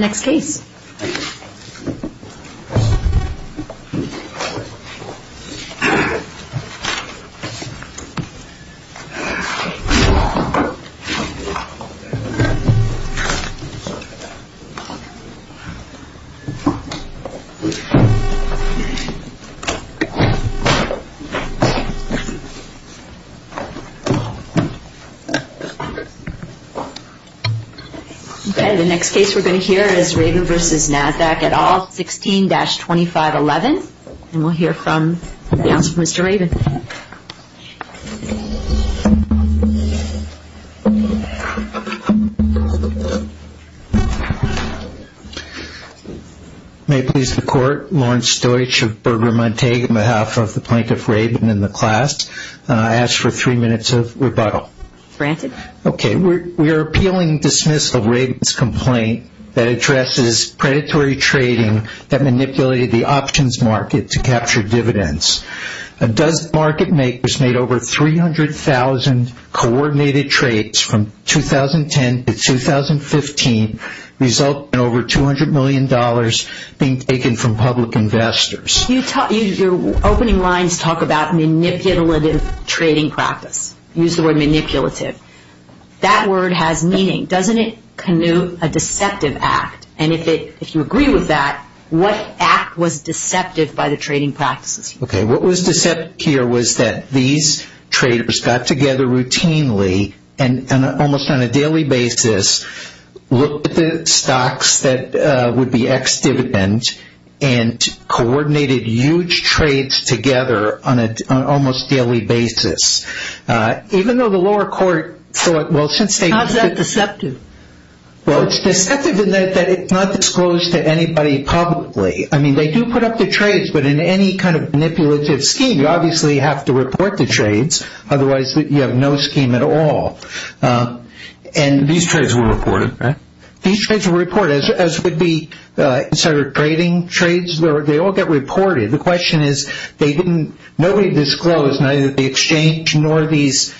Next case. Raven v. NASDAQ May I please the court, Lawrence Stoich of Berger Montague on behalf of the plaintiff Raven and the class, I ask for three minutes of rebuttal. Granted. We are appealing dismissal of Raven's complaint that addresses predatory trading that manipulated the options market to capture dividends. Does market makers made over 300,000 coordinated trades from 2010 to 2015 result in over $200 million being taken from public investors? Your opening lines talk about manipulative trading practice, use the word manipulative. That word has meaning, doesn't it connect a deceptive act and if you agree with that, what act was deceptive by the trading practices? What was deceptive here was that these traders got together routinely and almost on a daily basis, looked at the stocks that would be ex-dividend and coordinated huge trades together on an almost daily basis. Even though the lower court thought, well, since they- How is that deceptive? Well, it's deceptive in that it's not disclosed to anybody publicly. I mean, they do put up the trades, but in any kind of manipulative scheme, you obviously have to report the trades, otherwise you have no scheme at all. These trades were reported, right? These trades were reported, as would be insider trading trades, they all get reported. The question is, nobody disclosed, neither the exchange nor these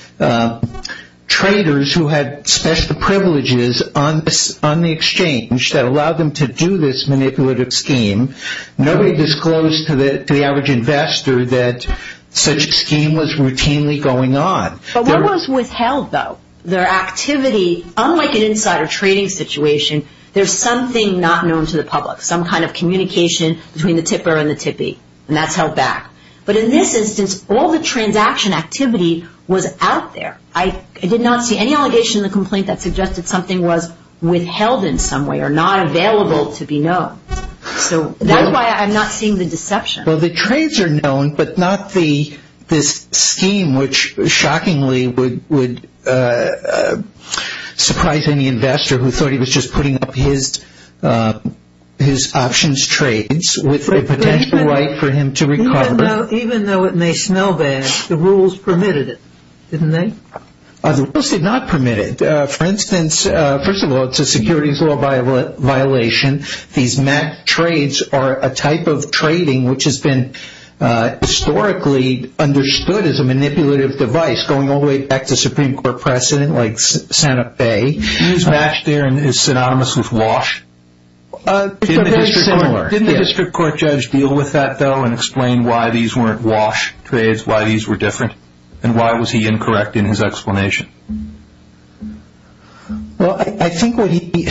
traders who had special privileges on the exchange that allowed them to do this manipulative scheme. Nobody disclosed to the average investor that such a scheme was routinely going on. But what was withheld, though? Their activity, unlike an insider trading situation, there's something not known to the public, some kind of communication between the tipper and the tippy, and that's held back. But in this instance, all the transaction activity was out there. I did not see any allegation in the complaint that suggested something was withheld in some way or not available to be known. So that's why I'm not seeing the deception. Well, the trades are known, but not this scheme, which shockingly would surprise any investor who thought he was just putting up his options trades with a potential right for him to recover. Even though it may smell bad, the rules permitted it, didn't they? The rules did not permit it. For instance, first of all, it's a securities law violation. These matched trades are a type of trading which has been historically understood as a manipulative device, going all the way back to Supreme Court precedent, like Santa Fe. These matched there is synonymous with wash? They're very similar. Didn't the district court judge deal with that, though, and explain why these weren't wash trades, why these were different? And why was he incorrect in his explanation? Well, I think what he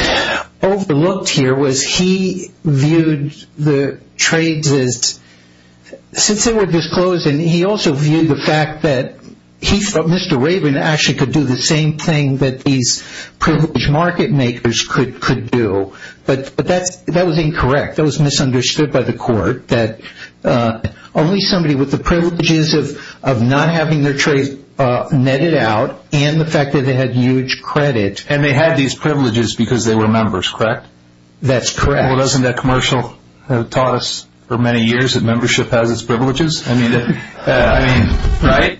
overlooked here was he viewed the trades as, since they were disclosed, and he also viewed the fact that he thought Mr. Raven actually could do the same thing that these privileged market makers could do. But that was incorrect. That was misunderstood by the court, that only somebody with the privileges of not having their trade netted out, and the fact that they had huge credit. And they had these privileges because they were members, correct? That's correct. Well, doesn't that commercial have taught us for many years that membership has its privileges? I mean, right?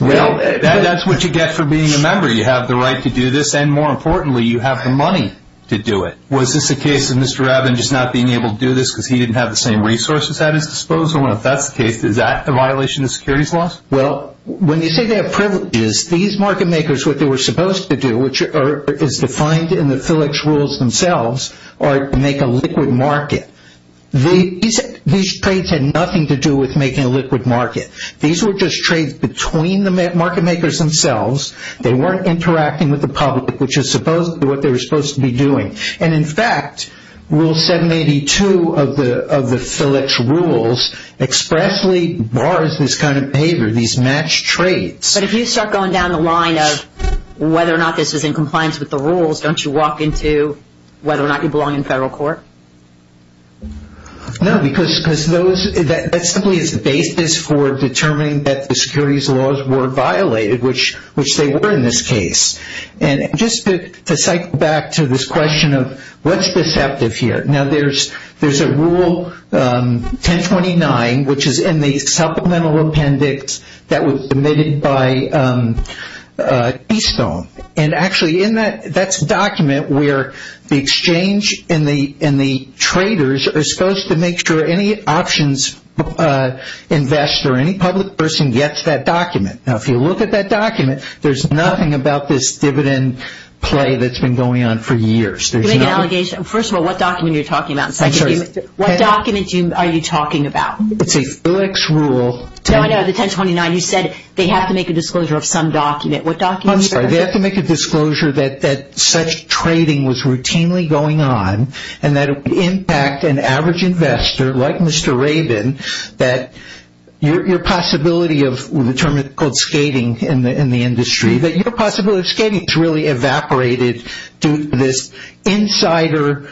Well, that's what you get for being a member. You have the right to do this, and more importantly, you have the money to do it. Was this a case of Mr. Raven just not being able to do this because he didn't have the same resources at his disposal? And if that's the case, is that a violation of securities laws? Well, when you say they have privileges, these market makers, what they were supposed to do, which is defined in the Phillips rules themselves, are to make a liquid market. These trades had nothing to do with making a liquid market. These were just trades between the market makers themselves. They weren't interacting with the public, which is supposed to be what they were supposed to be doing. And in fact, rule 782 of the Phillips rules expressly bars this kind of behavior, these matched trades. But if you start going down the line of whether or not this is in compliance with the rules, don't you walk into whether or not you belong in federal court? No, because that simply is the basis for determining that the securities laws were violated, which they were in this case. And just to cycle back to this question of what's deceptive here. Now, there's a rule 1029, which is in the supplemental appendix that was submitted by Keystone. And actually, that's a document where the exchange and the traders are supposed to make sure any options investor or any public person gets that document. Now, if you look at that document, there's nothing about this dividend play that's been going on for years. You're making an allegation. First of all, what document are you talking about? What document are you talking about? It's a Phillips rule. No, I know. The 1029. You said they have to make a disclosure of some document. I'm sorry. They have to make a disclosure that such trading was routinely going on and that it was an exchange investor like Mr. Rabin that your possibility of the term called skating in the industry, that your possibility of skating has really evaporated due to this insider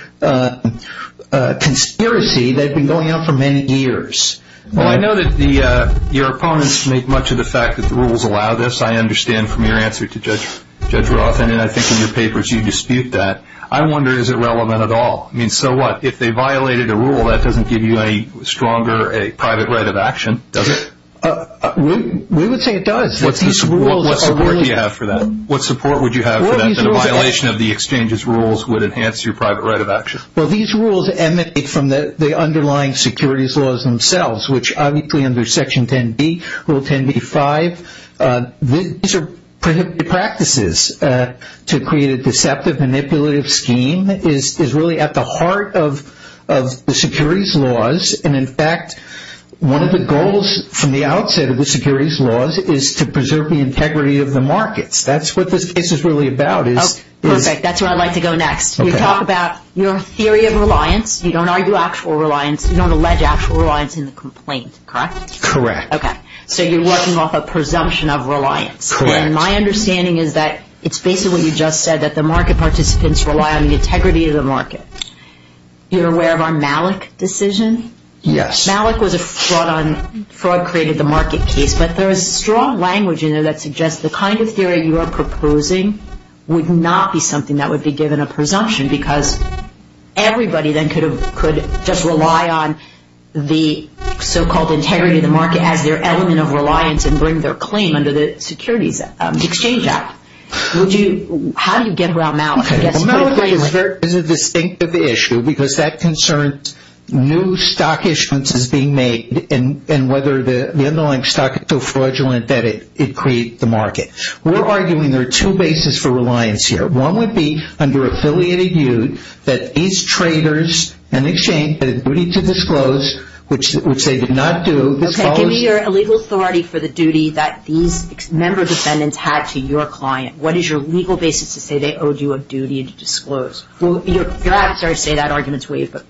conspiracy that had been going on for many years. Well, I know that your opponents make much of the fact that the rules allow this. I understand from your answer to Judge Roth. And I think in your papers, you dispute that. I wonder, is it relevant at all? I mean, so what? If they violated a rule, that doesn't give you a stronger private right of action, does it? We would say it does. What support do you have for that? What support would you have for that, that a violation of the exchange's rules would enhance your private right of action? Well, these rules emanate from the underlying securities laws themselves, which obviously under Section 10b, Rule 10b-5, these are prohibited practices to create a deceptive, manipulative scheme is really at the heart of the securities laws. And in fact, one of the goals from the outset of the securities laws is to preserve the integrity of the markets. That's what this case is really about. Perfect. That's where I'd like to go next. You talk about your theory of reliance. You don't argue actual reliance. You don't allege actual reliance in the complaint. Correct? Correct. Okay. So you're working off a presumption of reliance. Correct. And my understanding is that it's basically you just said that the market participants rely on the integrity of the market. You're aware of our Malik decision? Yes. Malik was a fraud on, fraud created the market case, but there is strong language in there that suggests the kind of theory you are proposing would not be something that would be given a presumption because everybody then could have, could just rely on the so-called integrity of the market as their element of reliance and bring their claim under the securities exchange act. Would you, how do you get around Malik? Okay. Malik is a distinctive issue because that concerns new stock issuances being made and whether the underlying stock is so fraudulent that it creates the market. We're arguing there are two bases for reliance here. One would be under affiliated yield that these traders in the exchange had a duty to disclose, which they did not do. Okay. Give me your legal authority for the duty that these member defendants had to your client. What is your legal basis to say they owed you a duty to disclose? Well, you're at, sorry to say that argument's waived, but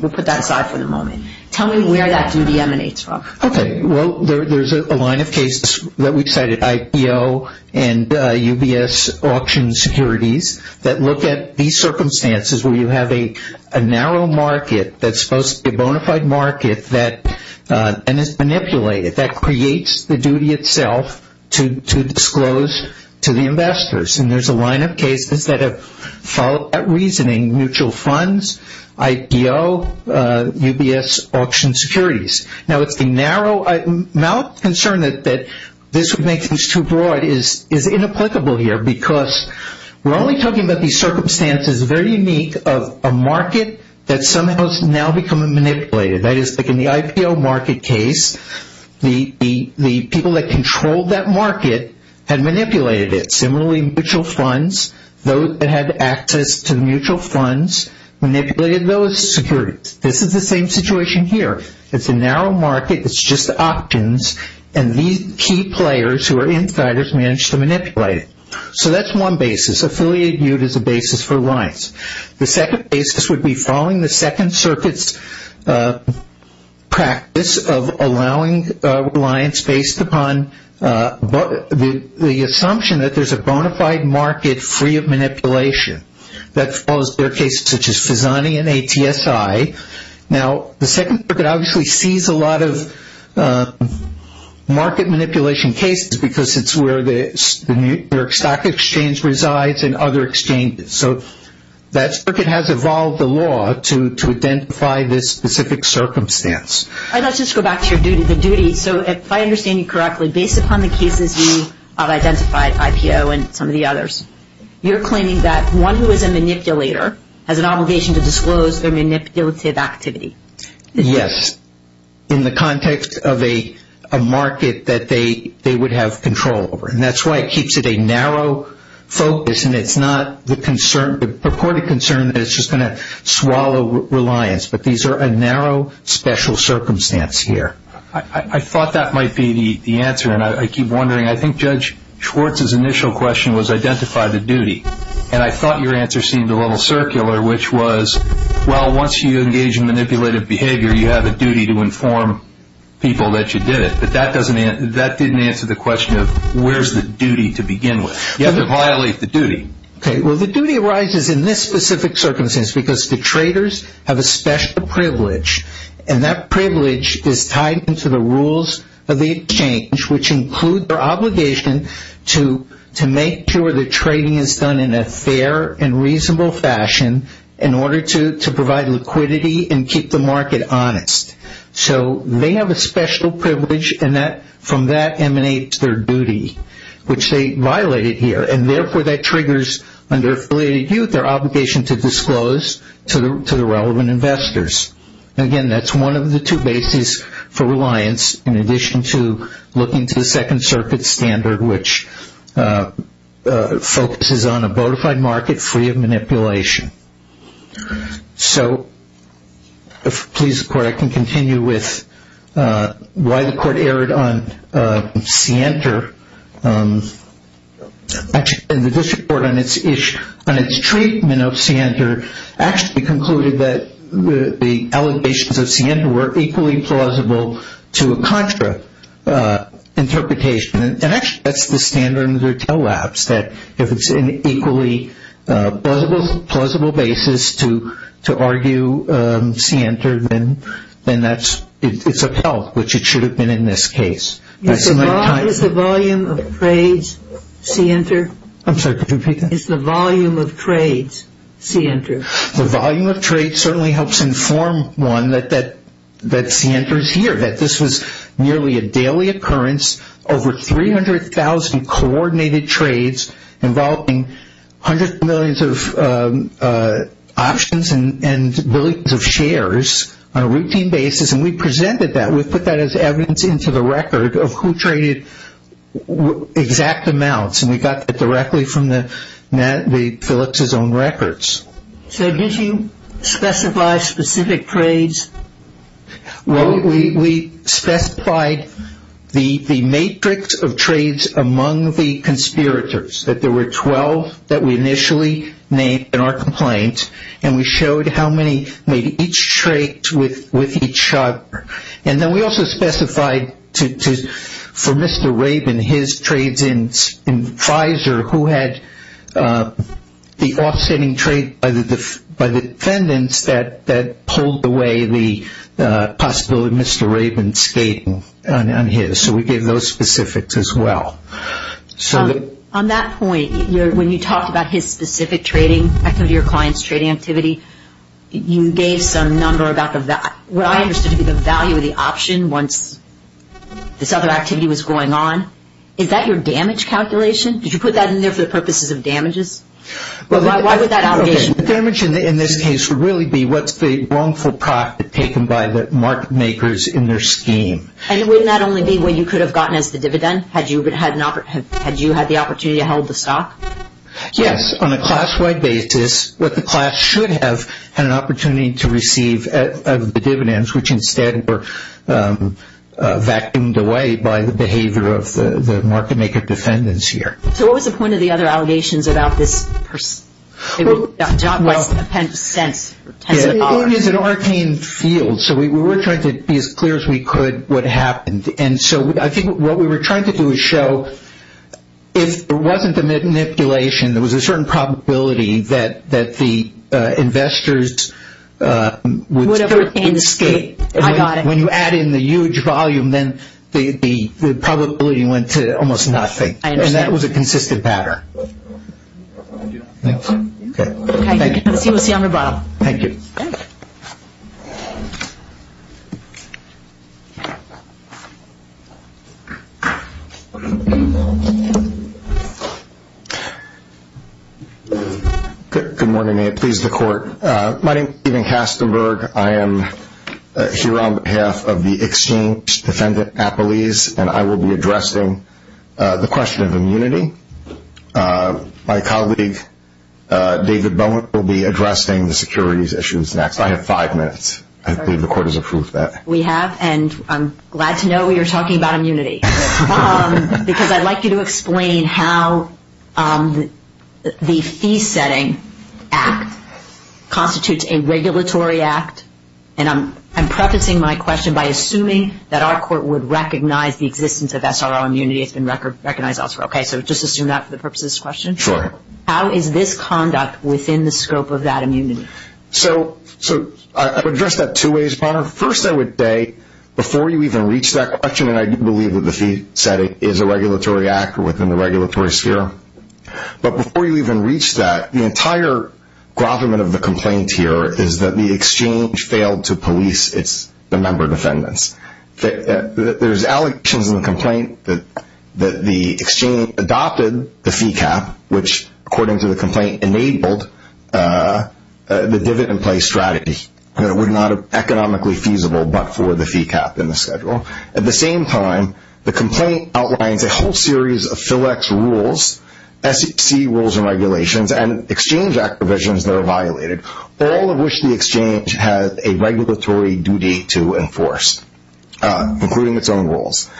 we'll put that aside for the moment. Tell me where that duty emanates from. Okay. Well, there's a line of cases that we cited, IPO and UBS auction securities that look at these circumstances where you have a narrow market that's supposed to be a bona fide market that, and it's manipulated. That creates the duty itself to disclose to the investors. And there's a line of cases that have followed that reasoning, mutual funds, IPO, UBS auction securities. Now it's the narrow, Malik's concern that this would make things too broad is inapplicable here because we're only talking about these circumstances very unique of a market that somehow is now becoming manipulated. That is, like in the IPO market case, the people that controlled that market had manipulated it. Similarly, mutual funds, those that had access to mutual funds manipulated those securities. This is the same situation here. It's a narrow market. It's just the options. And these key players who are insiders managed to manipulate it. So that's one basis. Affiliated duty is a basis for lines. The second basis would be following the Second Circuit's practice of allowing reliance based upon the assumption that there's a bona fide market free of manipulation. That follows their cases such as Fisani and ATSI. Now the Second Circuit obviously sees a lot of market manipulation cases because it's where the New York Stock Exchange resides and other exchanges. So that circuit has evolved the law to identify this specific circumstance. Let's just go back to the duty. So if I understand you correctly, based upon the cases you have identified, IPO and some of the others, you're claiming that one who is a manipulator has an obligation to disclose their manipulative activity. Yes. In the context of a market that they would have control over. And that's why it keeps it a narrow focus and it's not the concern, the purported concern that it's just going to swallow reliance. But these are a narrow special circumstance here. I thought that might be the answer. And I keep wondering. I think Judge Schwartz's initial question was identify the duty. And I thought your answer seemed a little circular, which was, well, once you engage in manipulative behavior, you have a duty to inform people that you did it. But that didn't answer the question of where's the duty to begin with. You have to violate the duty. Well, the duty arises in this specific circumstance because the traders have a special privilege. And that privilege is tied into the rules of the exchange, which include their obligation to make sure the trading is done in a fair and reasonable fashion in order to provide liquidity and keep the market honest. So they have a special privilege and from that emanates their duty, which they violated here. And therefore, that triggers under Affiliated Youth, their obligation to disclose to the relevant investors. Again, that's one of the two bases for reliance, in addition to looking to the Second Circuit standard, So, please, the Court, I can continue with why the Court erred on Sienter. Actually, the District Court on its treatment of Sienter, actually concluded that the allegations of Sienter were equally plausible to a contra interpretation. And actually, that's the standard under TELWAPS, that if it's an equally plausible basis to argue Sienter, then it's upheld, which it should have been in this case. Is the volume of trades Sienter? I'm sorry, could you repeat that? Is the volume of trades Sienter? The volume of trades certainly helps inform one that Sienter is here, that this was nearly a daily occurrence, over 300,000 coordinated trades, involving hundreds of millions of options and billions of shares, on a routine basis, and we presented that, we put that as evidence into the record of who traded exact amounts, and we got that directly from Felix's own records. So, did you specify specific trades? Well, we specified the matrix of trades among the conspirators, that there were 12 that we initially named in our complaint, and we showed how many made each trade with each other. And then we also specified for Mr. Rabin, his trades in Pfizer, who had the offsetting trade by the defendants, that pulled away the possibility of Mr. Rabin skating on his. So, we gave those specifics as well. On that point, when you talked about his specific trading activity, your client's trading activity, you gave some number about the value, what I understood to be the value of the option, once this other activity was going on. Is that your damage calculation? Did you put that in there for the purposes of damages? Why would that allegation be? The damage in this case would really be what's the wrongful profit taken by the market makers in their scheme. And it would not only be what you could have gotten as the dividend, had you had the opportunity to hold the stock? Yes. On a class-wide basis, what the class should have had an opportunity to receive the dividends, which instead were vacuumed away by the behavior of the market maker defendants here. So, what was the point of the other allegations about this? John, what's the sense? It is an arcane field. So, we were trying to be as clear as we could what happened. And so, I think what we were trying to do is show, if there wasn't a manipulation, there was a certain probability that the investors would... Would have escaped. I got it. When you add in the huge volume, then the probability went to almost nothing. I understand. And that was a consistent pattern. Thank you. Thank you. Thank you. Thank you. Thank you. Thank you. Thank you. Good morning and please the court. My name is Steven Kastenberg. I am here on behalf of the Exchange Defendant Appellees. And I will be addressing the question of immunity. My colleague, David Bowen, will be addressing the securities issues next. I have five minutes. I believe the court has approved that. We have. And I'm glad to know you're talking about immunity. Because I'd like you to explain how the Fee Setting Act constitutes a regulatory act. And I'm prefacing my question by assuming that our court would recognize the existence of SRO immunity. It's been recognized elsewhere. Okay. So just assume that for the purpose of this question? Sure. How is this conduct within the scope of that immunity? So I would address that two ways, Your Honor. First, I would say, before you even reach that question, and I do believe that the Fee Setting is a regulatory act within the regulatory sphere. But before you even reach that, the entire grovelment of the complaint here is that the Exchange failed to police its member defendants. There's allegations in the complaint that the Exchange adopted the fee cap, which, according to the complaint, enabled the dividend play strategy. It would not have been economically feasible but for the fee cap in the schedule. At the same time, the complaint outlines a whole series of FLEX rules, SEC rules and regulations, and Exchange Act provisions that are violated, all of which the Exchange has a regulatory duty to enforce, including its own rules.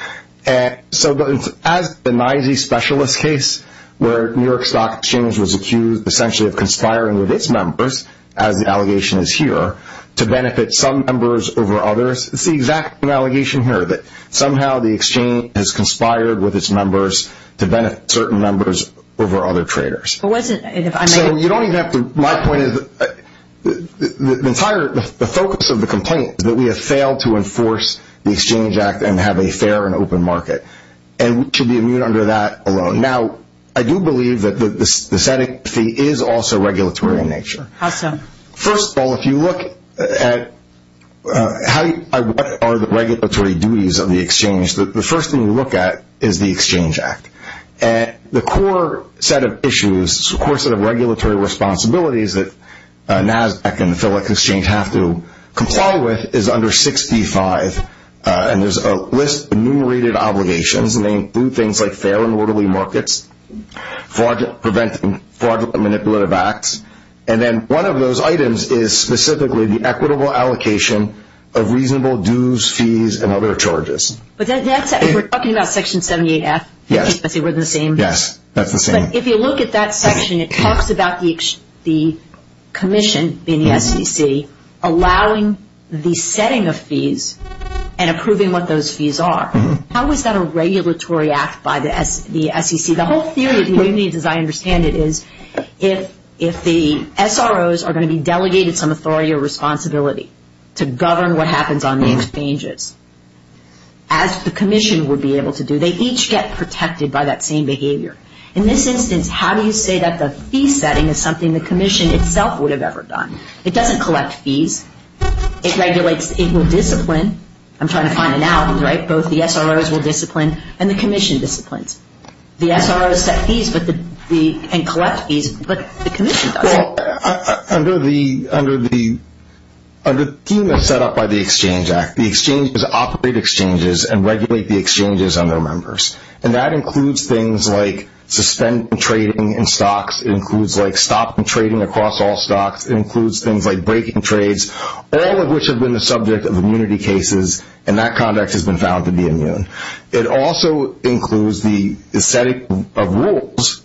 So as the NYSE specialist case, where New York Stock Exchange was accused, essentially, of conspiring with its members, as the allegation is here, to benefit some members over others. It's the exact same allegation here, that somehow the Exchange has conspired with its members to benefit certain members over other traders. So you don't even have to, my point is, the entire, the focus of the complaint is that we have failed to enforce the Exchange Act and have a fair and open market. And we should be immune under that alone. Now, I do believe that this adding fee is also regulatory in nature. How so? First of all, if you look at what are the regulatory duties of the Exchange, the first thing you look at is the Exchange Act. And the core set of issues, the core set of regulatory responsibilities that NASDAQ and the FedEx Exchange have to comply with is under 6b-5. And there's a list of enumerated obligations, and they include things like fair and orderly markets, fraud, preventing fraudulent manipulative acts. And then one of those items is specifically the equitable allocation of reasonable dues, fees, and other charges. But that's it. We're talking about Section 78F. Yes. I see we're the same. Yes, that's the same. But if you look at that section, it talks about the Commission, being the SEC, allowing the setting of fees and approving what those fees are. How is that a regulatory act by the SEC? The whole theory, the way I understand it, is if the SROs are going to be delegated some authority or responsibility to govern what happens on the exchanges, as the Commission would be able to do, they each get protected by that same behavior. In this instance, how do you say that the fee setting is something the Commission itself would have ever done? It doesn't collect fees. It regulates equal discipline. I'm trying to find an album, right? Both the SROs will discipline and the Commission disciplines. The SROs set fees and collect fees, but the Commission doesn't. Well, under the scheme that's set up by the Exchange Act, the exchanges operate exchanges and regulate the exchanges on their members. That includes things like suspended trading in stocks. It includes stopping trading across all stocks. It includes things like breaking trades, all of which have been the subject of immunity cases, and that conduct has been found to be immune. It also includes the setting of rules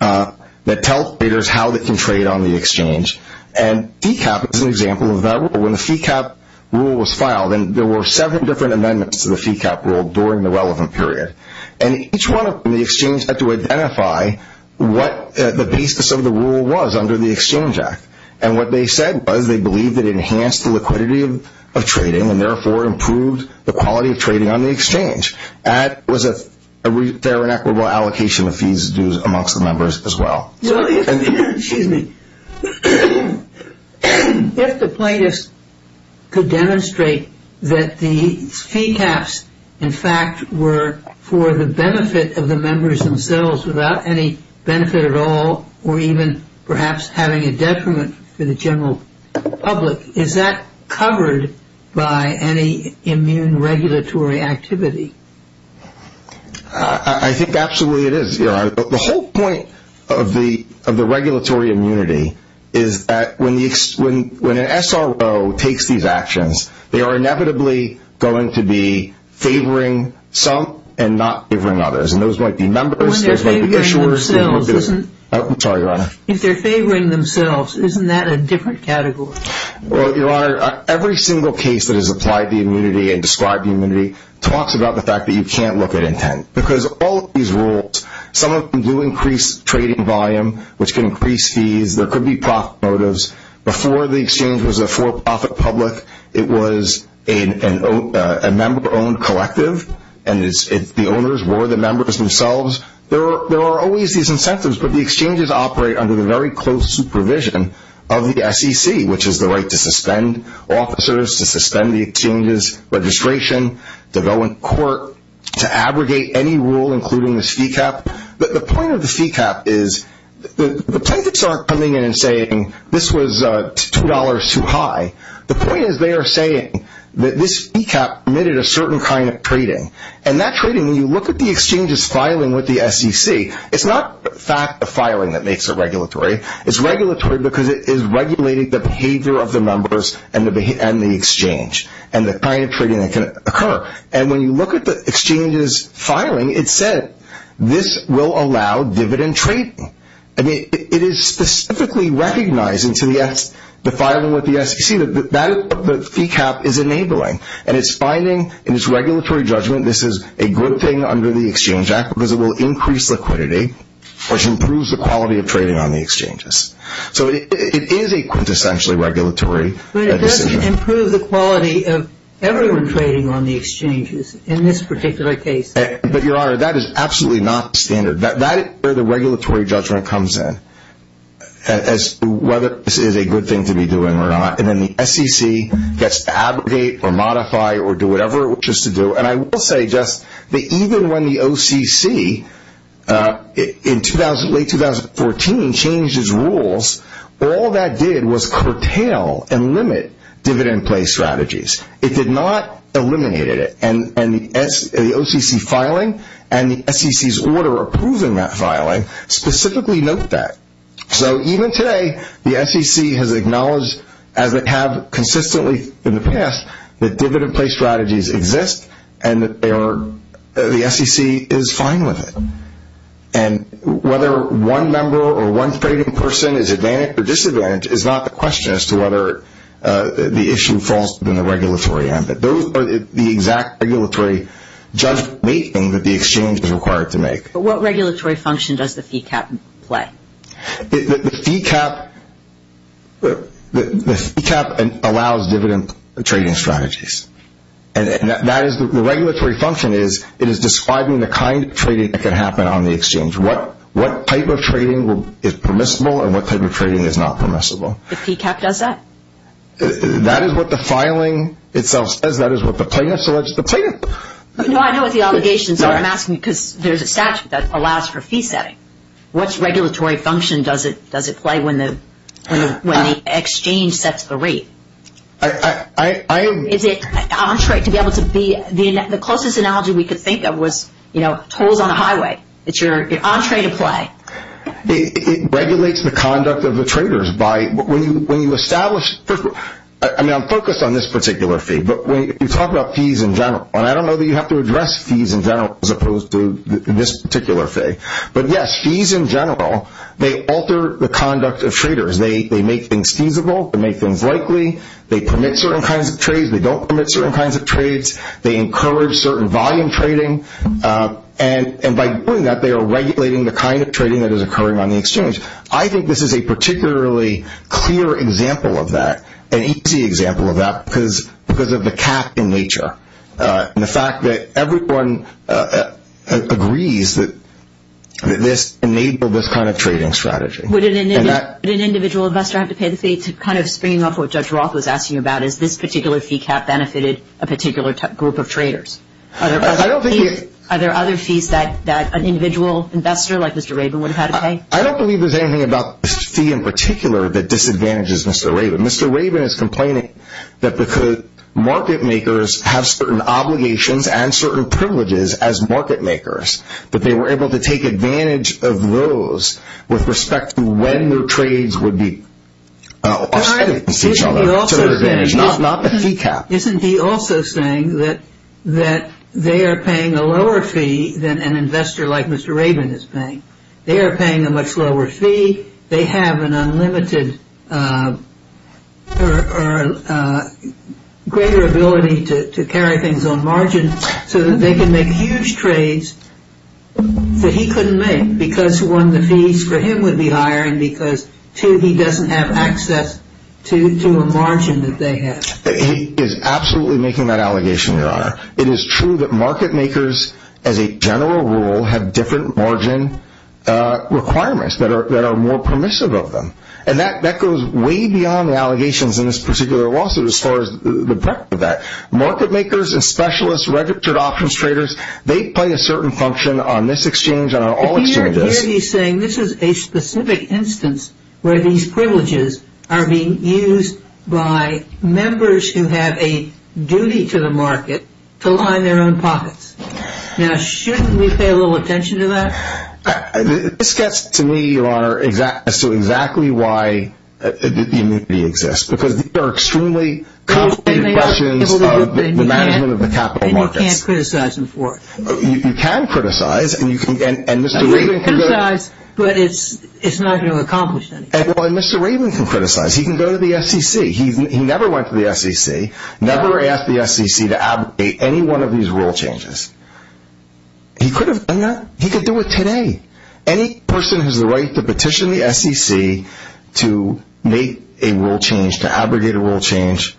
that tell traders how they can trade on the exchange, and fee cap is an example of that rule. When the fee cap rule was filed, there were seven different amendments to the fee cap rule during the relevant period, and each one of them, the exchange had to identify what the basis of the rule was under the Exchange Act, and what they said was they believed it enhanced the liquidity of trading, and therefore improved the quality of trading on the exchange. That was a fair and equitable allocation of fees and dues amongst the members as well. If the plaintiffs could demonstrate that the fee caps, in fact, were for the benefit of the members themselves without any benefit at all, or even perhaps having a detriment for the general public, is that covered by any immune regulatory activity? I think absolutely it is. The whole point of the regulatory immunity is that when an SRO takes these actions, they are inevitably going to be favoring some and not favoring others, and those might be members, there might be issuers. If they're favoring themselves, isn't that a different category? Every single case that has applied the immunity and described the immunity talks about the fact that you can't look at intent, because all of these rules, some of them do increase trading volume, which can increase fees, there could be profit motives. Before the exchange was a for-profit public, it was a member-owned collective, and the owners were the members themselves. There are always these incentives, but the exchanges operate under the very close supervision of the SEC, which is the right to suspend officers, to suspend the exchange's registration, to go in court, to abrogate any rule including this fee cap. The point of the fee cap is the plaintiffs aren't coming in and saying, this was $2 too high. The point is they are saying that this fee cap emitted a certain kind of trading, and that trading, when you look at the exchange's filing with the SEC, it's not the fact of filing that makes it regulatory. It's regulatory because it is regulating the behavior of the members and the exchange, and the kind of trading that can occur. And when you look at the exchange's filing, it said, this will allow dividend trading. I mean, it is specifically recognizing to the filing with the SEC, that the fee cap is enabling, and it's finding in its regulatory judgment, this is a good thing under the Exchange Act, because it will increase liquidity, which improves the quality of trading on the exchanges. So it is a quintessentially regulatory decision. Improves the quality of everyone trading on the exchanges, in this particular case. But Your Honor, that is absolutely not standard. That is where the regulatory judgment comes in, as to whether this is a good thing to be doing or not. And then the SEC gets to abrogate or modify or do whatever it wishes to do. And I will say just that even when the OCC, in late 2014, changed its rules, all that did was curtail and limit dividend play strategies. It did not eliminate it. And the OCC filing, and the SEC's order approving that filing, specifically note that. So even today, the SEC has acknowledged, as they have consistently in the past, that dividend play strategies exist, and the SEC is fine with it. And whether one member or one trading person is at advantage or disadvantage is not the question as to whether the issue falls within the regulatory ambit. Those are the exact regulatory judgment making that the exchange is required to make. But what regulatory function does the fee cap play? The fee cap allows dividend trading strategies. And the regulatory function is it is describing the kind of trading that can happen on the exchange. What type of trading is permissible and what type of trading is not permissible. The fee cap does that? That is what the filing itself says. That is what the plaintiff says. No, I know what the obligations are. I'm asking because there's a statute that allows for fee setting. What regulatory function does it play when the exchange sets the rate? The closest analogy we could think of was tolls on the highway. It's your entree to play. It regulates the conduct of the traders. I'm focused on this particular fee, but when you talk about fees in general, and I don't know that you have to address fees in general as opposed to this particular fee, but yes, fees in general, they alter the conduct of traders. They make things feasible. They make things likely. They permit certain kinds of trades. They don't permit certain kinds of trades. They encourage certain volume trading. And by doing that, they are regulating the kind of trading that is occurring on the exchange. I think this is a particularly clear example of that, an easy example of that because of the cap in nature. And the fact that everyone agrees that this enabled this kind of trading strategy. Would an individual investor have to pay the fee to kind of spring up what Judge Roth was asking about is this particular fee cap benefited a particular group of traders? Are there other fees that an individual investor like Mr. Rabin would have had to pay? I don't believe there's anything about this fee in particular that disadvantages Mr. Rabin. Mr. Rabin is complaining that because market makers have certain obligations and certain privileges as market makers, that they were able to take advantage of those with respect to when their trades would be offset against each other to their advantage, not the fee cap. Isn't he also saying that they are paying a lower fee than an investor like Mr. Rabin is paying? They are paying a much lower fee. They have an unlimited or greater ability to carry things on margin so that they can make huge trades that he couldn't make because one, the fees for him would be higher and because two, he doesn't have access to a margin that they have. He is absolutely making that allegation, Your Honor. It is true that market makers as a general rule have different margin requirements that are more permissive of them. And that goes way beyond the allegations in this particular lawsuit as far as the breadth of that. Market makers and specialists, registered options traders, they play a certain function on this exchange and on all exchanges. But here he is saying this is a specific instance where these privileges are being used by members who have a duty to the market to line their own pockets. Now, shouldn't we pay a little attention to that? This gets to me, Your Honor, as to exactly why the immunity exists because these are extremely complicated questions of the management of the capital markets. And you can't criticize them for it. You can criticize. You can criticize, but it's not going to accomplish anything. Mr. Raven can criticize. He can go to the SEC. He never went to the SEC, never asked the SEC to abrogate any one of these rule changes. He could have done that. He could do it today. Any person who has the right to petition the SEC to make a rule change, to abrogate a rule change,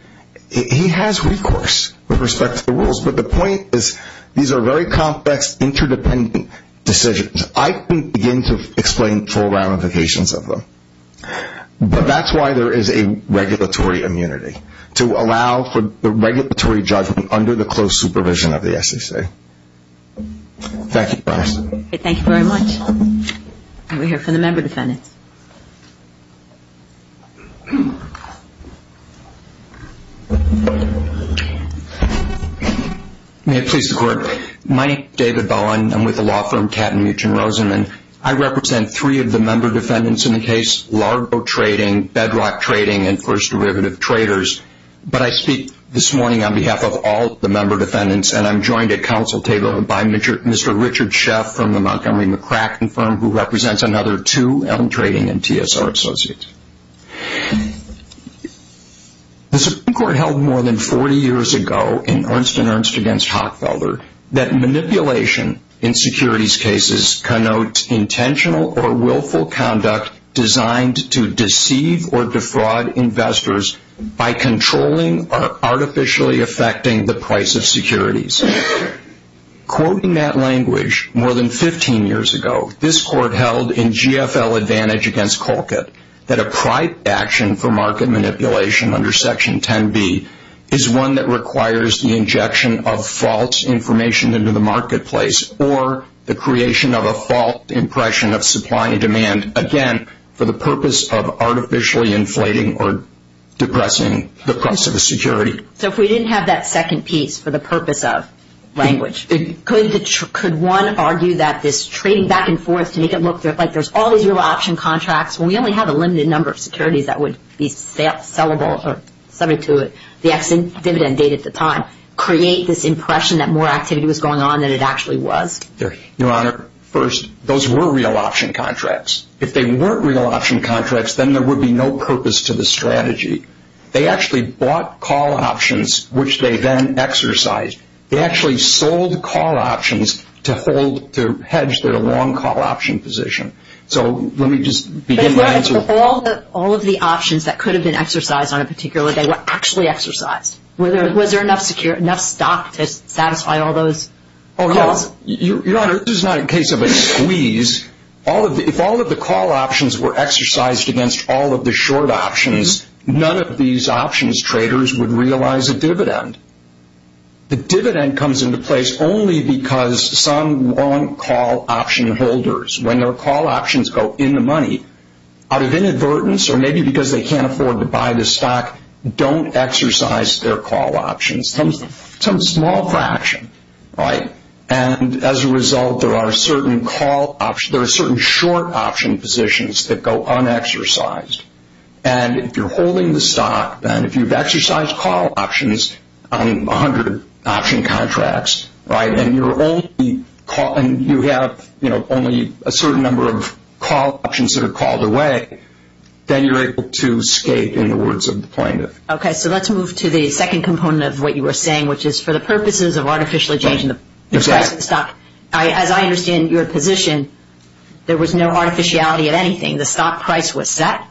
he has recourse with respect to the rules. But the point is these are very complex, interdependent decisions. I couldn't begin to explain full ramifications of them. But that's why there is a regulatory immunity, to allow for the regulatory judgment under the close supervision of the SEC. Thank you, Your Honor. Thank you very much. We'll hear from the member defendants. May it please the Court. My name is David Bowen. I'm with the law firm Kattenmuech and Rosenman. I represent three of the member defendants in the case, Largo Trading, Bedrock Trading, and First Derivative Traders. But I speak this morning on behalf of all the member defendants. And I'm joined at council table by Mr. Richard Sheff from the Montgomery McCracken firm, who represents another two L Trading and TSR associates. The Supreme Court held more than 40 years ago, in Ernst and Ernst against Hockfelder, that manipulation in securities cases connotes intentional or willful conduct designed to deceive or defraud investors by controlling or artificially affecting the price of securities. Quoting that language more than 15 years ago, this Court held in GFL Advantage against Colquitt, that a private action for market manipulation under Section 10b, is one that requires the injection of false information into the marketplace, or the creation of a false impression of supply and demand, again, for the purpose of artificially inflating or depressing the price of a security. So if we didn't have that second piece for the purpose of language, could one argue that this trading back and forth to make it look like there's all these real option contracts, when we only have a limited number of securities that would be sellable or subject to the dividend date at the time, create this impression that more activity was going on than it actually was? Your Honor, first, those were real option contracts. If they weren't real option contracts, then there would be no purpose to the strategy. They actually bought call options, which they then exercised. They actually sold call options to hold, to hedge their long call option position. So let me just begin to answer. But if all of the options that could have been exercised on a particular day were actually exercised, was there enough stock to satisfy all those calls? Your Honor, this is not a case of a squeeze. If all of the call options were exercised against all of the short options, none of these options traders would realize a dividend. The dividend comes into place only because some long call option holders, when their call options go in the money, out of inadvertence or maybe because they can't afford to buy the stock, don't exercise their call options. Some small fraction, right? And as a result, there are certain short option positions that go unexercised. And if you're holding the stock, and if you've exercised call options on 100 option contracts, and you have only a certain number of call options that are called away, then you're able to escape, in the words of the plaintiff. Okay, so let's move to the second component of what you were saying, which is for the purposes of artificially changing the price of the stock. As I understand your position, there was no artificiality of anything. The stock price was set,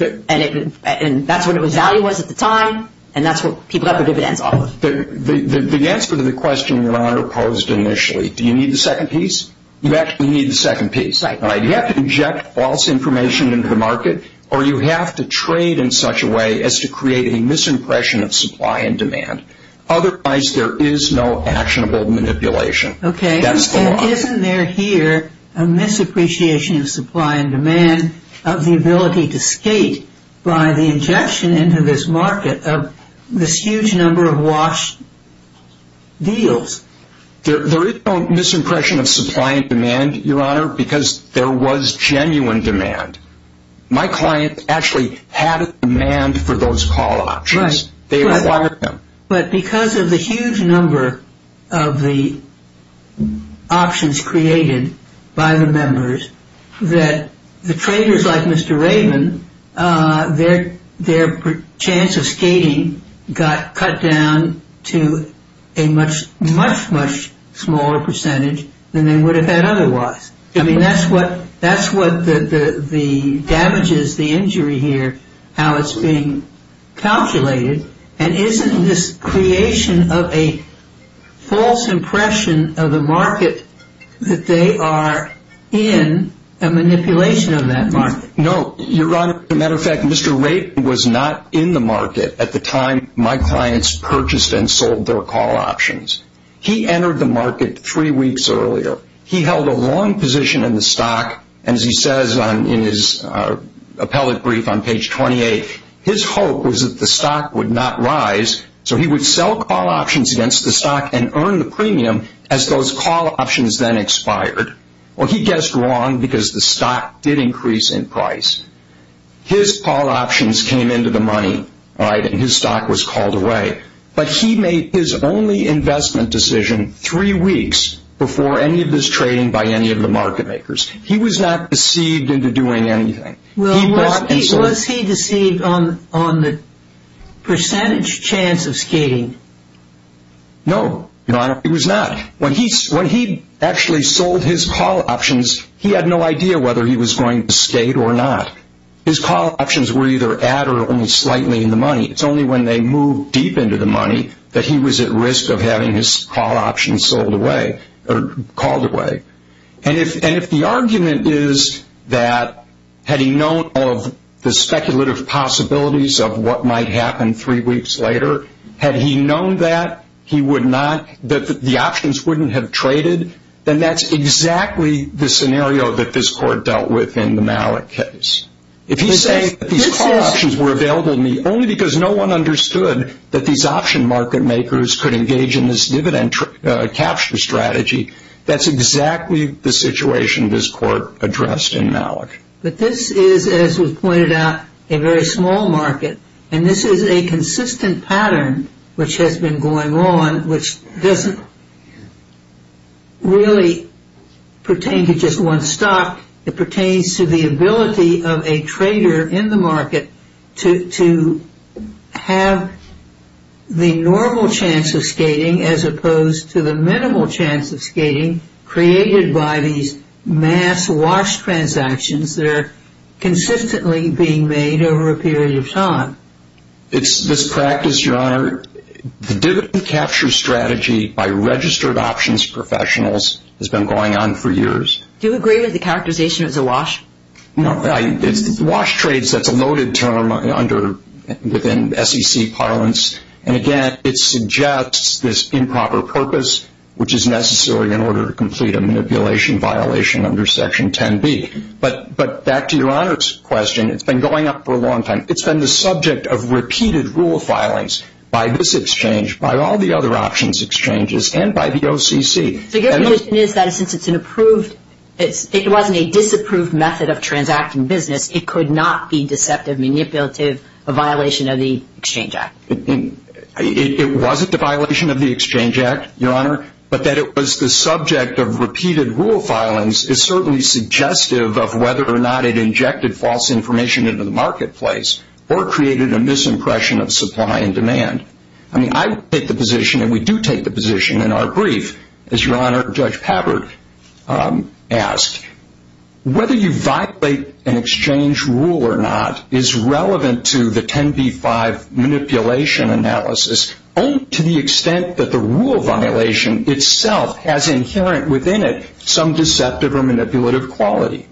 and that's what its value was at the time, and that's what people got their dividends off of. The answer to the question Your Honor posed initially, do you need the second piece? You actually need the second piece. You have to inject false information into the market, or you have to trade in such a way as to create a misimpression of supply and demand. Otherwise, there is no actionable manipulation. Okay, and isn't there here a misappreciation of supply and demand, of the ability to escape by the injection into this market of this huge number of washed deals? There is no misimpression of supply and demand, Your Honor, because there was genuine demand. My client actually had a demand for those call options. They required them. But because of the huge number of the options created by the members, that the traders like Mr. Raven, their chance of skating got cut down to a much, much smaller percentage than they would have had otherwise. I mean, that's what damages the injury here, how it's being calculated. And isn't this creation of a false impression of the market that they are in a manipulation of that market? No, Your Honor, as a matter of fact, Mr. Raven was not in the market at the time my clients purchased and sold their call options. He entered the market three weeks earlier. He held a long position in the stock, and as he says in his appellate brief on page 28, his hope was that the stock would not rise, so he would sell call options against the stock and earn the premium as those call options then expired. Well, he guessed wrong because the stock did increase in price. His call options came into the money, and his stock was called away. But he made his only investment decision three weeks before any of this trading by any of the market makers. He was not deceived into doing anything. Was he deceived on the percentage chance of skating? No, Your Honor, he was not. When he actually sold his call options, he had no idea whether he was going to skate or not. His call options were either at or only slightly in the money. It's only when they moved deep into the money that he was at risk of having his call options sold away or called away. And if the argument is that, had he known of the speculative possibilities of what might happen three weeks later, had he known that the options wouldn't have traded, then that's exactly the scenario that this Court dealt with in the Malik case. Only because no one understood that these option market makers could engage in this dividend capture strategy, that's exactly the situation this Court addressed in Malik. But this is, as was pointed out, a very small market. And this is a consistent pattern which has been going on, which doesn't really pertain to just one stock. It pertains to the ability of a trader in the market to have the normal chance of skating as opposed to the minimal chance of skating created by these mass wash transactions that are consistently being made over a period of time. It's this practice, Your Honor. The dividend capture strategy by registered options professionals has been going on for years. Do you agree with the characterization as a wash? No. Wash trades, that's a noted term within SEC parlance. And again, it suggests this improper purpose, which is necessary in order to complete a manipulation violation under Section 10B. But back to Your Honor's question, it's been going on for a long time. It's been the subject of repeated rule filings by this exchange, by all the other options exchanges, and by the OCC. So your conclusion is that since it wasn't a disapproved method of transacting business, it could not be deceptive, manipulative, a violation of the Exchange Act? It wasn't a violation of the Exchange Act, Your Honor, but that it was the subject of repeated rule filings is certainly suggestive of whether or not it injected false information into the marketplace or created a misimpression of supply and demand. I take the position, and we do take the position in our brief, as Your Honor, Judge Pabbard asked, whether you violate an exchange rule or not is relevant to the 10B-5 manipulation analysis only to the extent that the rule violation itself has inherent within it some deceptive or manipulative quality.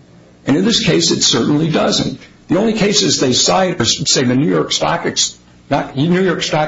And in this case, it certainly doesn't. The only cases they cite are, say, the New York Stock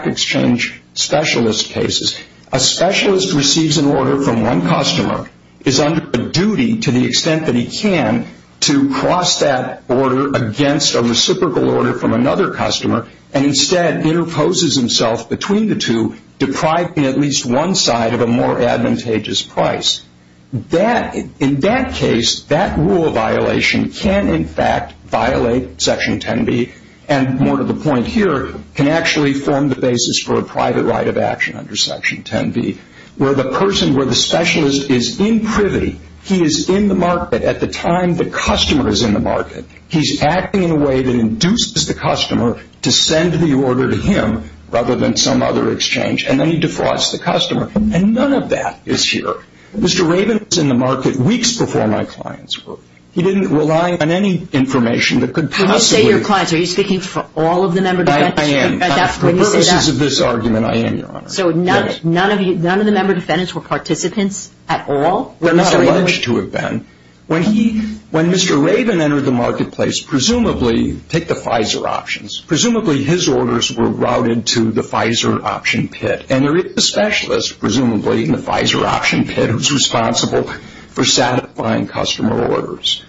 Exchange specialist cases. A specialist receives an order from one customer, is under a duty to the extent that he can to cross that order against a reciprocal order from another customer, and instead interposes himself between the two, depriving at least one side of a more advantageous price. In that case, that rule violation can in fact violate Section 10B, and more to the point here, can actually form the basis for a private right of action under Section 10B, where the person, where the specialist is in privy, he is in the market at the time the customer is in the market. He's acting in a way that induces the customer to send the order to him rather than some other exchange, and then he defrauds the customer. And none of that is here. Mr. Raven was in the market weeks before my clients were. He didn't rely on any information that could possibly... When you say your clients, are you speaking for all of the member defendants? I am. For purposes of this argument, I am, Your Honor. So none of the member defendants were participants at all? They're not alleged to have been. When Mr. Raven entered the marketplace, presumably, take the Pfizer options, presumably his orders were routed to the Pfizer option pit. And there is a specialist, presumably, in the Pfizer option pit who's responsible for satisfying customer orders.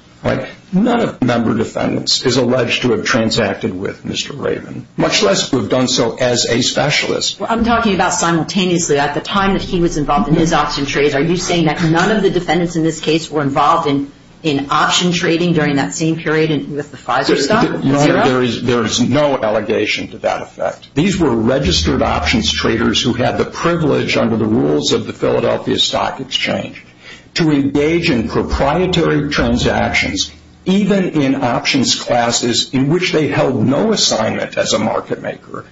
None of the member defendants is alleged to have transacted with Mr. Raven, much less to have done so as a specialist. I'm talking about simultaneously. At the time that he was involved in his option trades, are you saying that none of the defendants in this case were involved in option trading during that same period with the Pfizer stuff? No, there is no allegation to that effect. These were registered options traders who had the privilege, under the rules of the Philadelphia Stock Exchange, to engage in proprietary transactions, even in options classes in which they held no assignment as a market maker.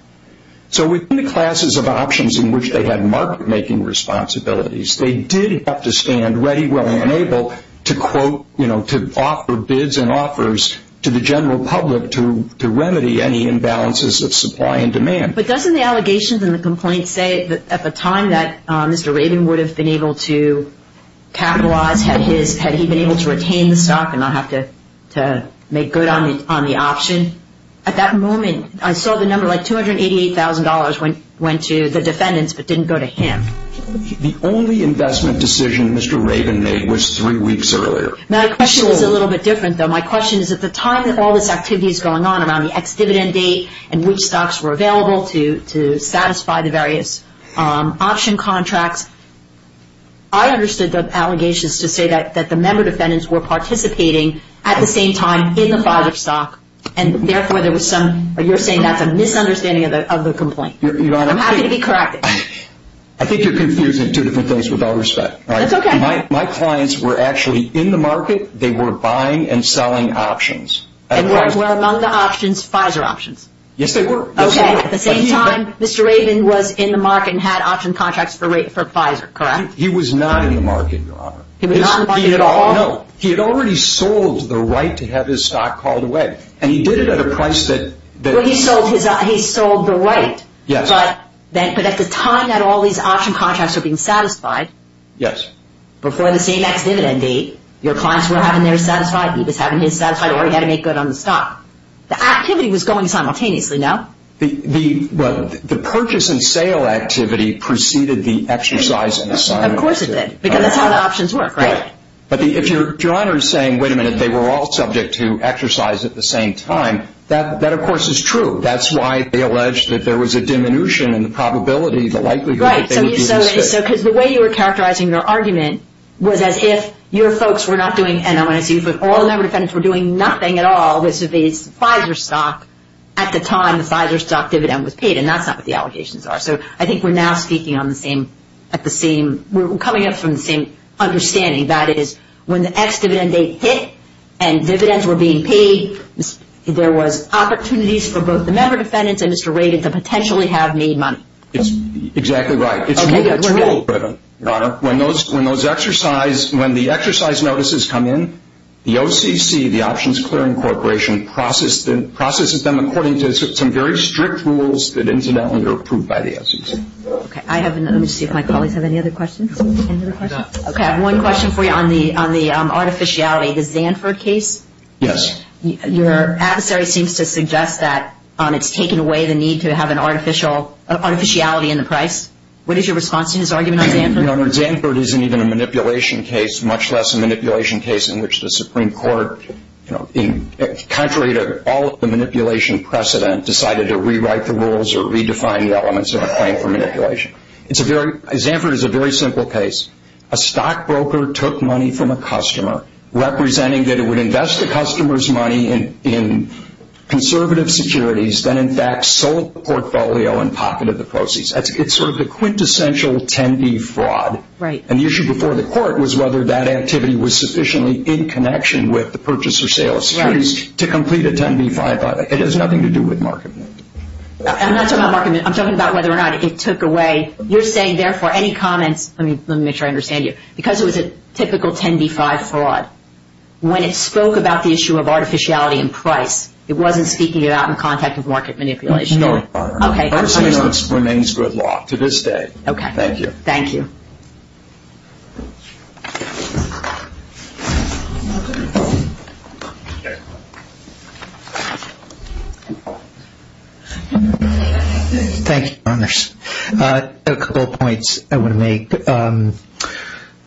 So within the classes of options in which they had market-making responsibilities, they did have to stand ready, willing, and able to quote, you know, to offer bids and offers to the general public to remedy any imbalances of supply and demand. But doesn't the allegations and the complaints say that at the time that Mr. Raven would have been able to capitalize, had he been able to retain the stock and not have to make good on the option? At that moment, I saw the number, like $288,000 went to the defendants, but didn't go to him. The only investment decision Mr. Raven made was three weeks earlier. My question is a little bit different, though. My question is at the time that all this activity is going on around the ex-dividend date and which stocks were available to satisfy the various option contracts, I understood the allegations to say that the member defendants were participating at the same time in the file of stock, and therefore there was some, you're saying that's a misunderstanding of the complaint. I'm happy to be corrected. I think you're confusing two different things without respect. That's okay. My clients were actually in the market. They were buying and selling options. And were among the options Pfizer options? Yes, they were. At the same time, Mr. Raven was in the market and had option contracts for Pfizer, correct? He was not in the market, Your Honor. He was not in the market? No. He had already sold the right to have his stock called away. And he did it at a price that... Well, he sold the right. Yes. But at the time that all these option contracts were being satisfied... Yes. Before the same ex-dividend date, your clients were having their satisfied, he was having his satisfied, or he had to make good on the stock. The activity was going simultaneously, no? The purchase and sale activity preceded the exercise in the simultaneous... Of course it did. Because that's how the options work, right? But if Your Honor is saying, wait a minute, they were all subject to exercise at the same time, that of course is true. That's why they alleged that there was a diminution in the probability the likelihood that they would be... Right. Because the way you were characterizing your argument was as if your folks were not doing... And I want to see if all the member defendants were doing nothing at all vis-a-vis Pfizer stock at the time the Pfizer stock dividend was paid. And that's not what the allegations are. So I think we're now speaking on the same... We're coming up from the same understanding. That is, when the ex-dividend date hit and dividends were being paid, there was opportunities for both the member defendants and Mr. Raiden to potentially have made money. Exactly right. It's rule-driven, Your Honor. When the exercise notices come in, the OCC, the Options Clearing Corporation, processes them according to some very strict rules that incidentally are approved by the OCC. Okay. Let me see if my colleagues have any other questions. Okay. I have one question for you on the artificiality. The Zanford case? Yes. Your adversary seems to suggest that it's taken away the need to have an artificiality in the price. What is your response to his argument on Zanford? Your Honor, Zanford isn't even a manipulation case, much less a manipulation case in which the Supreme Court, contrary to all of the manipulation precedent, decided to rewrite the rules or redefine the elements of a claim for manipulation. Zanford is a very simple case. A stockbroker took money from a customer, representing that it would invest the customer's money in conservative securities, then in fact sold the portfolio and pocketed the proceeds. It's sort of the quintessential 10-B fraud. Right. And the issue before the Court was whether that activity was sufficiently in connection with the purchase or sale of securities to complete a 10-B-5. It has nothing to do with marketment. I'm not talking about marketment. I'm talking about whether or not it took away. You're saying, therefore, any comments, let me make sure I understand you, because it was a typical 10-B-5 fraud, when it spoke about the issue of artificiality in price, it wasn't speaking about in contact with market manipulation. No, Your Honor. Okay. That remains good law to this day. Okay. Thank you. Thank you. Thank you, Your Honors. A couple of points I want to make.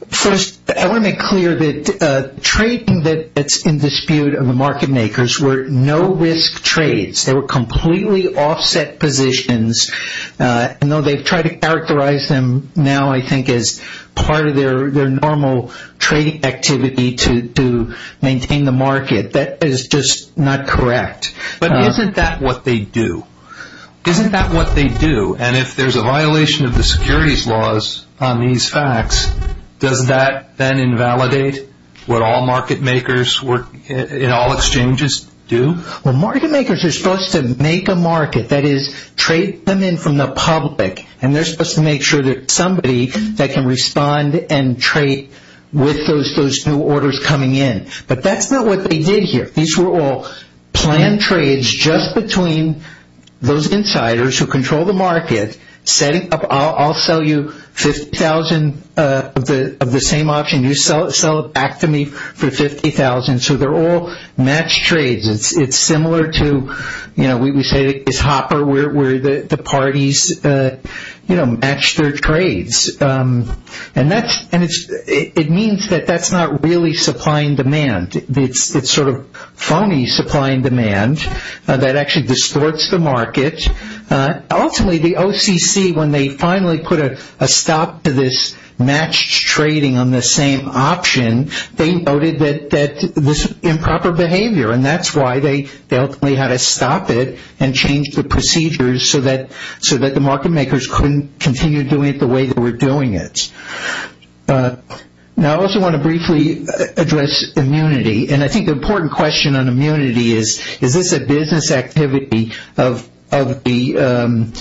First, I want to make clear that trading that's in dispute of the market makers were no-risk trades. They were completely offset positions. And though they've tried to characterize them now, I think as part of their normal trading activity to maintain the market, that is just not correct. But isn't that what they do? Isn't that what they do? And if there's a violation of the securities laws on these facts, does that then invalidate what all market makers in all exchanges do? Well, market makers are supposed to make a market, that is, trade them in from the public. And they're supposed to make sure that somebody that can respond and trade with those new orders coming in. But that's not what they did here. These were all planned trades just between those insiders who control the market, setting up, I'll sell you 50,000 of the same option, you sell it back to me for 50,000. So they're all matched trades. It's similar to, you know, we say it's hopper, where the parties, you know, match their trades. And it means that that's not really supply and demand. It's sort of phony supply and demand that actually distorts the market. Ultimately, the OCC, when they finally put a stop to this matched trading on the same option, they noted that this improper behavior. And that's why they ultimately had to stop it and change the procedures so that the market makers couldn't continue doing it the way they were doing it. Now, I also want to briefly address immunity. And I think the important question on immunity is, is this a business activity of the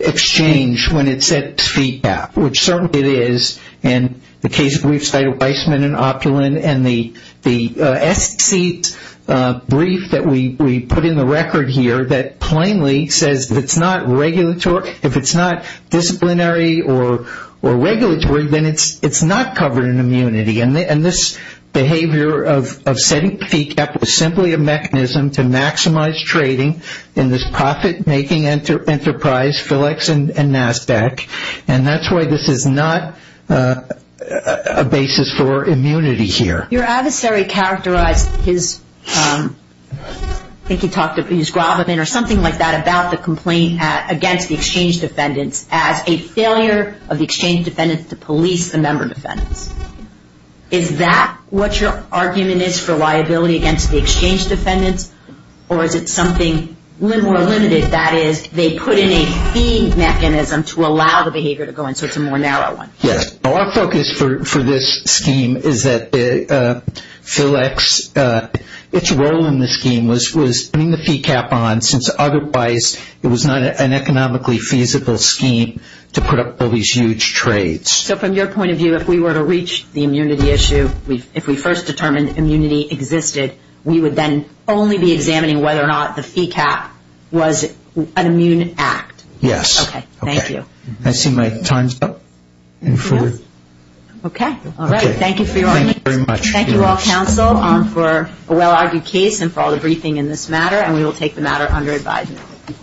exchange when it sets fee cap, which certainly it is. And the case briefs by Weissman and Opulent and the S seat brief that we put in the record here, that plainly says if it's not regulatory, if it's not disciplinary or regulatory, then it's not covered in immunity. And this behavior of setting fee cap was simply a mechanism to maximize trading in this profit-making enterprise, Philips and NASDAQ. And that's why this is not a basis for immunity here. Your adversary characterized his, I think he talked about his gravamen or something like that about the complaint against the exchange defendants as a failure of the exchange defendants to police the member defendants. Is that what your argument is for liability against the exchange defendants? Or is it something more limited? That is, they put in a fee mechanism to allow the behavior to go in. So it's a more narrow one. Yes. Our focus for this scheme is that Philips, its role in the scheme was putting the fee cap on since otherwise it was not an economically feasible scheme to put up all these huge trades. So from your point of view, if we were to reach the immunity issue, if we first determined immunity existed, we would then only be examining whether or not the fee cap was an immune act. Yes. Okay, thank you. I see my time's up. Okay, all right. Thank you for your audience. Thank you very much. Thank you all, counsel, for a well-argued case and for all the briefing in this matter. And we will take the matter under advisement.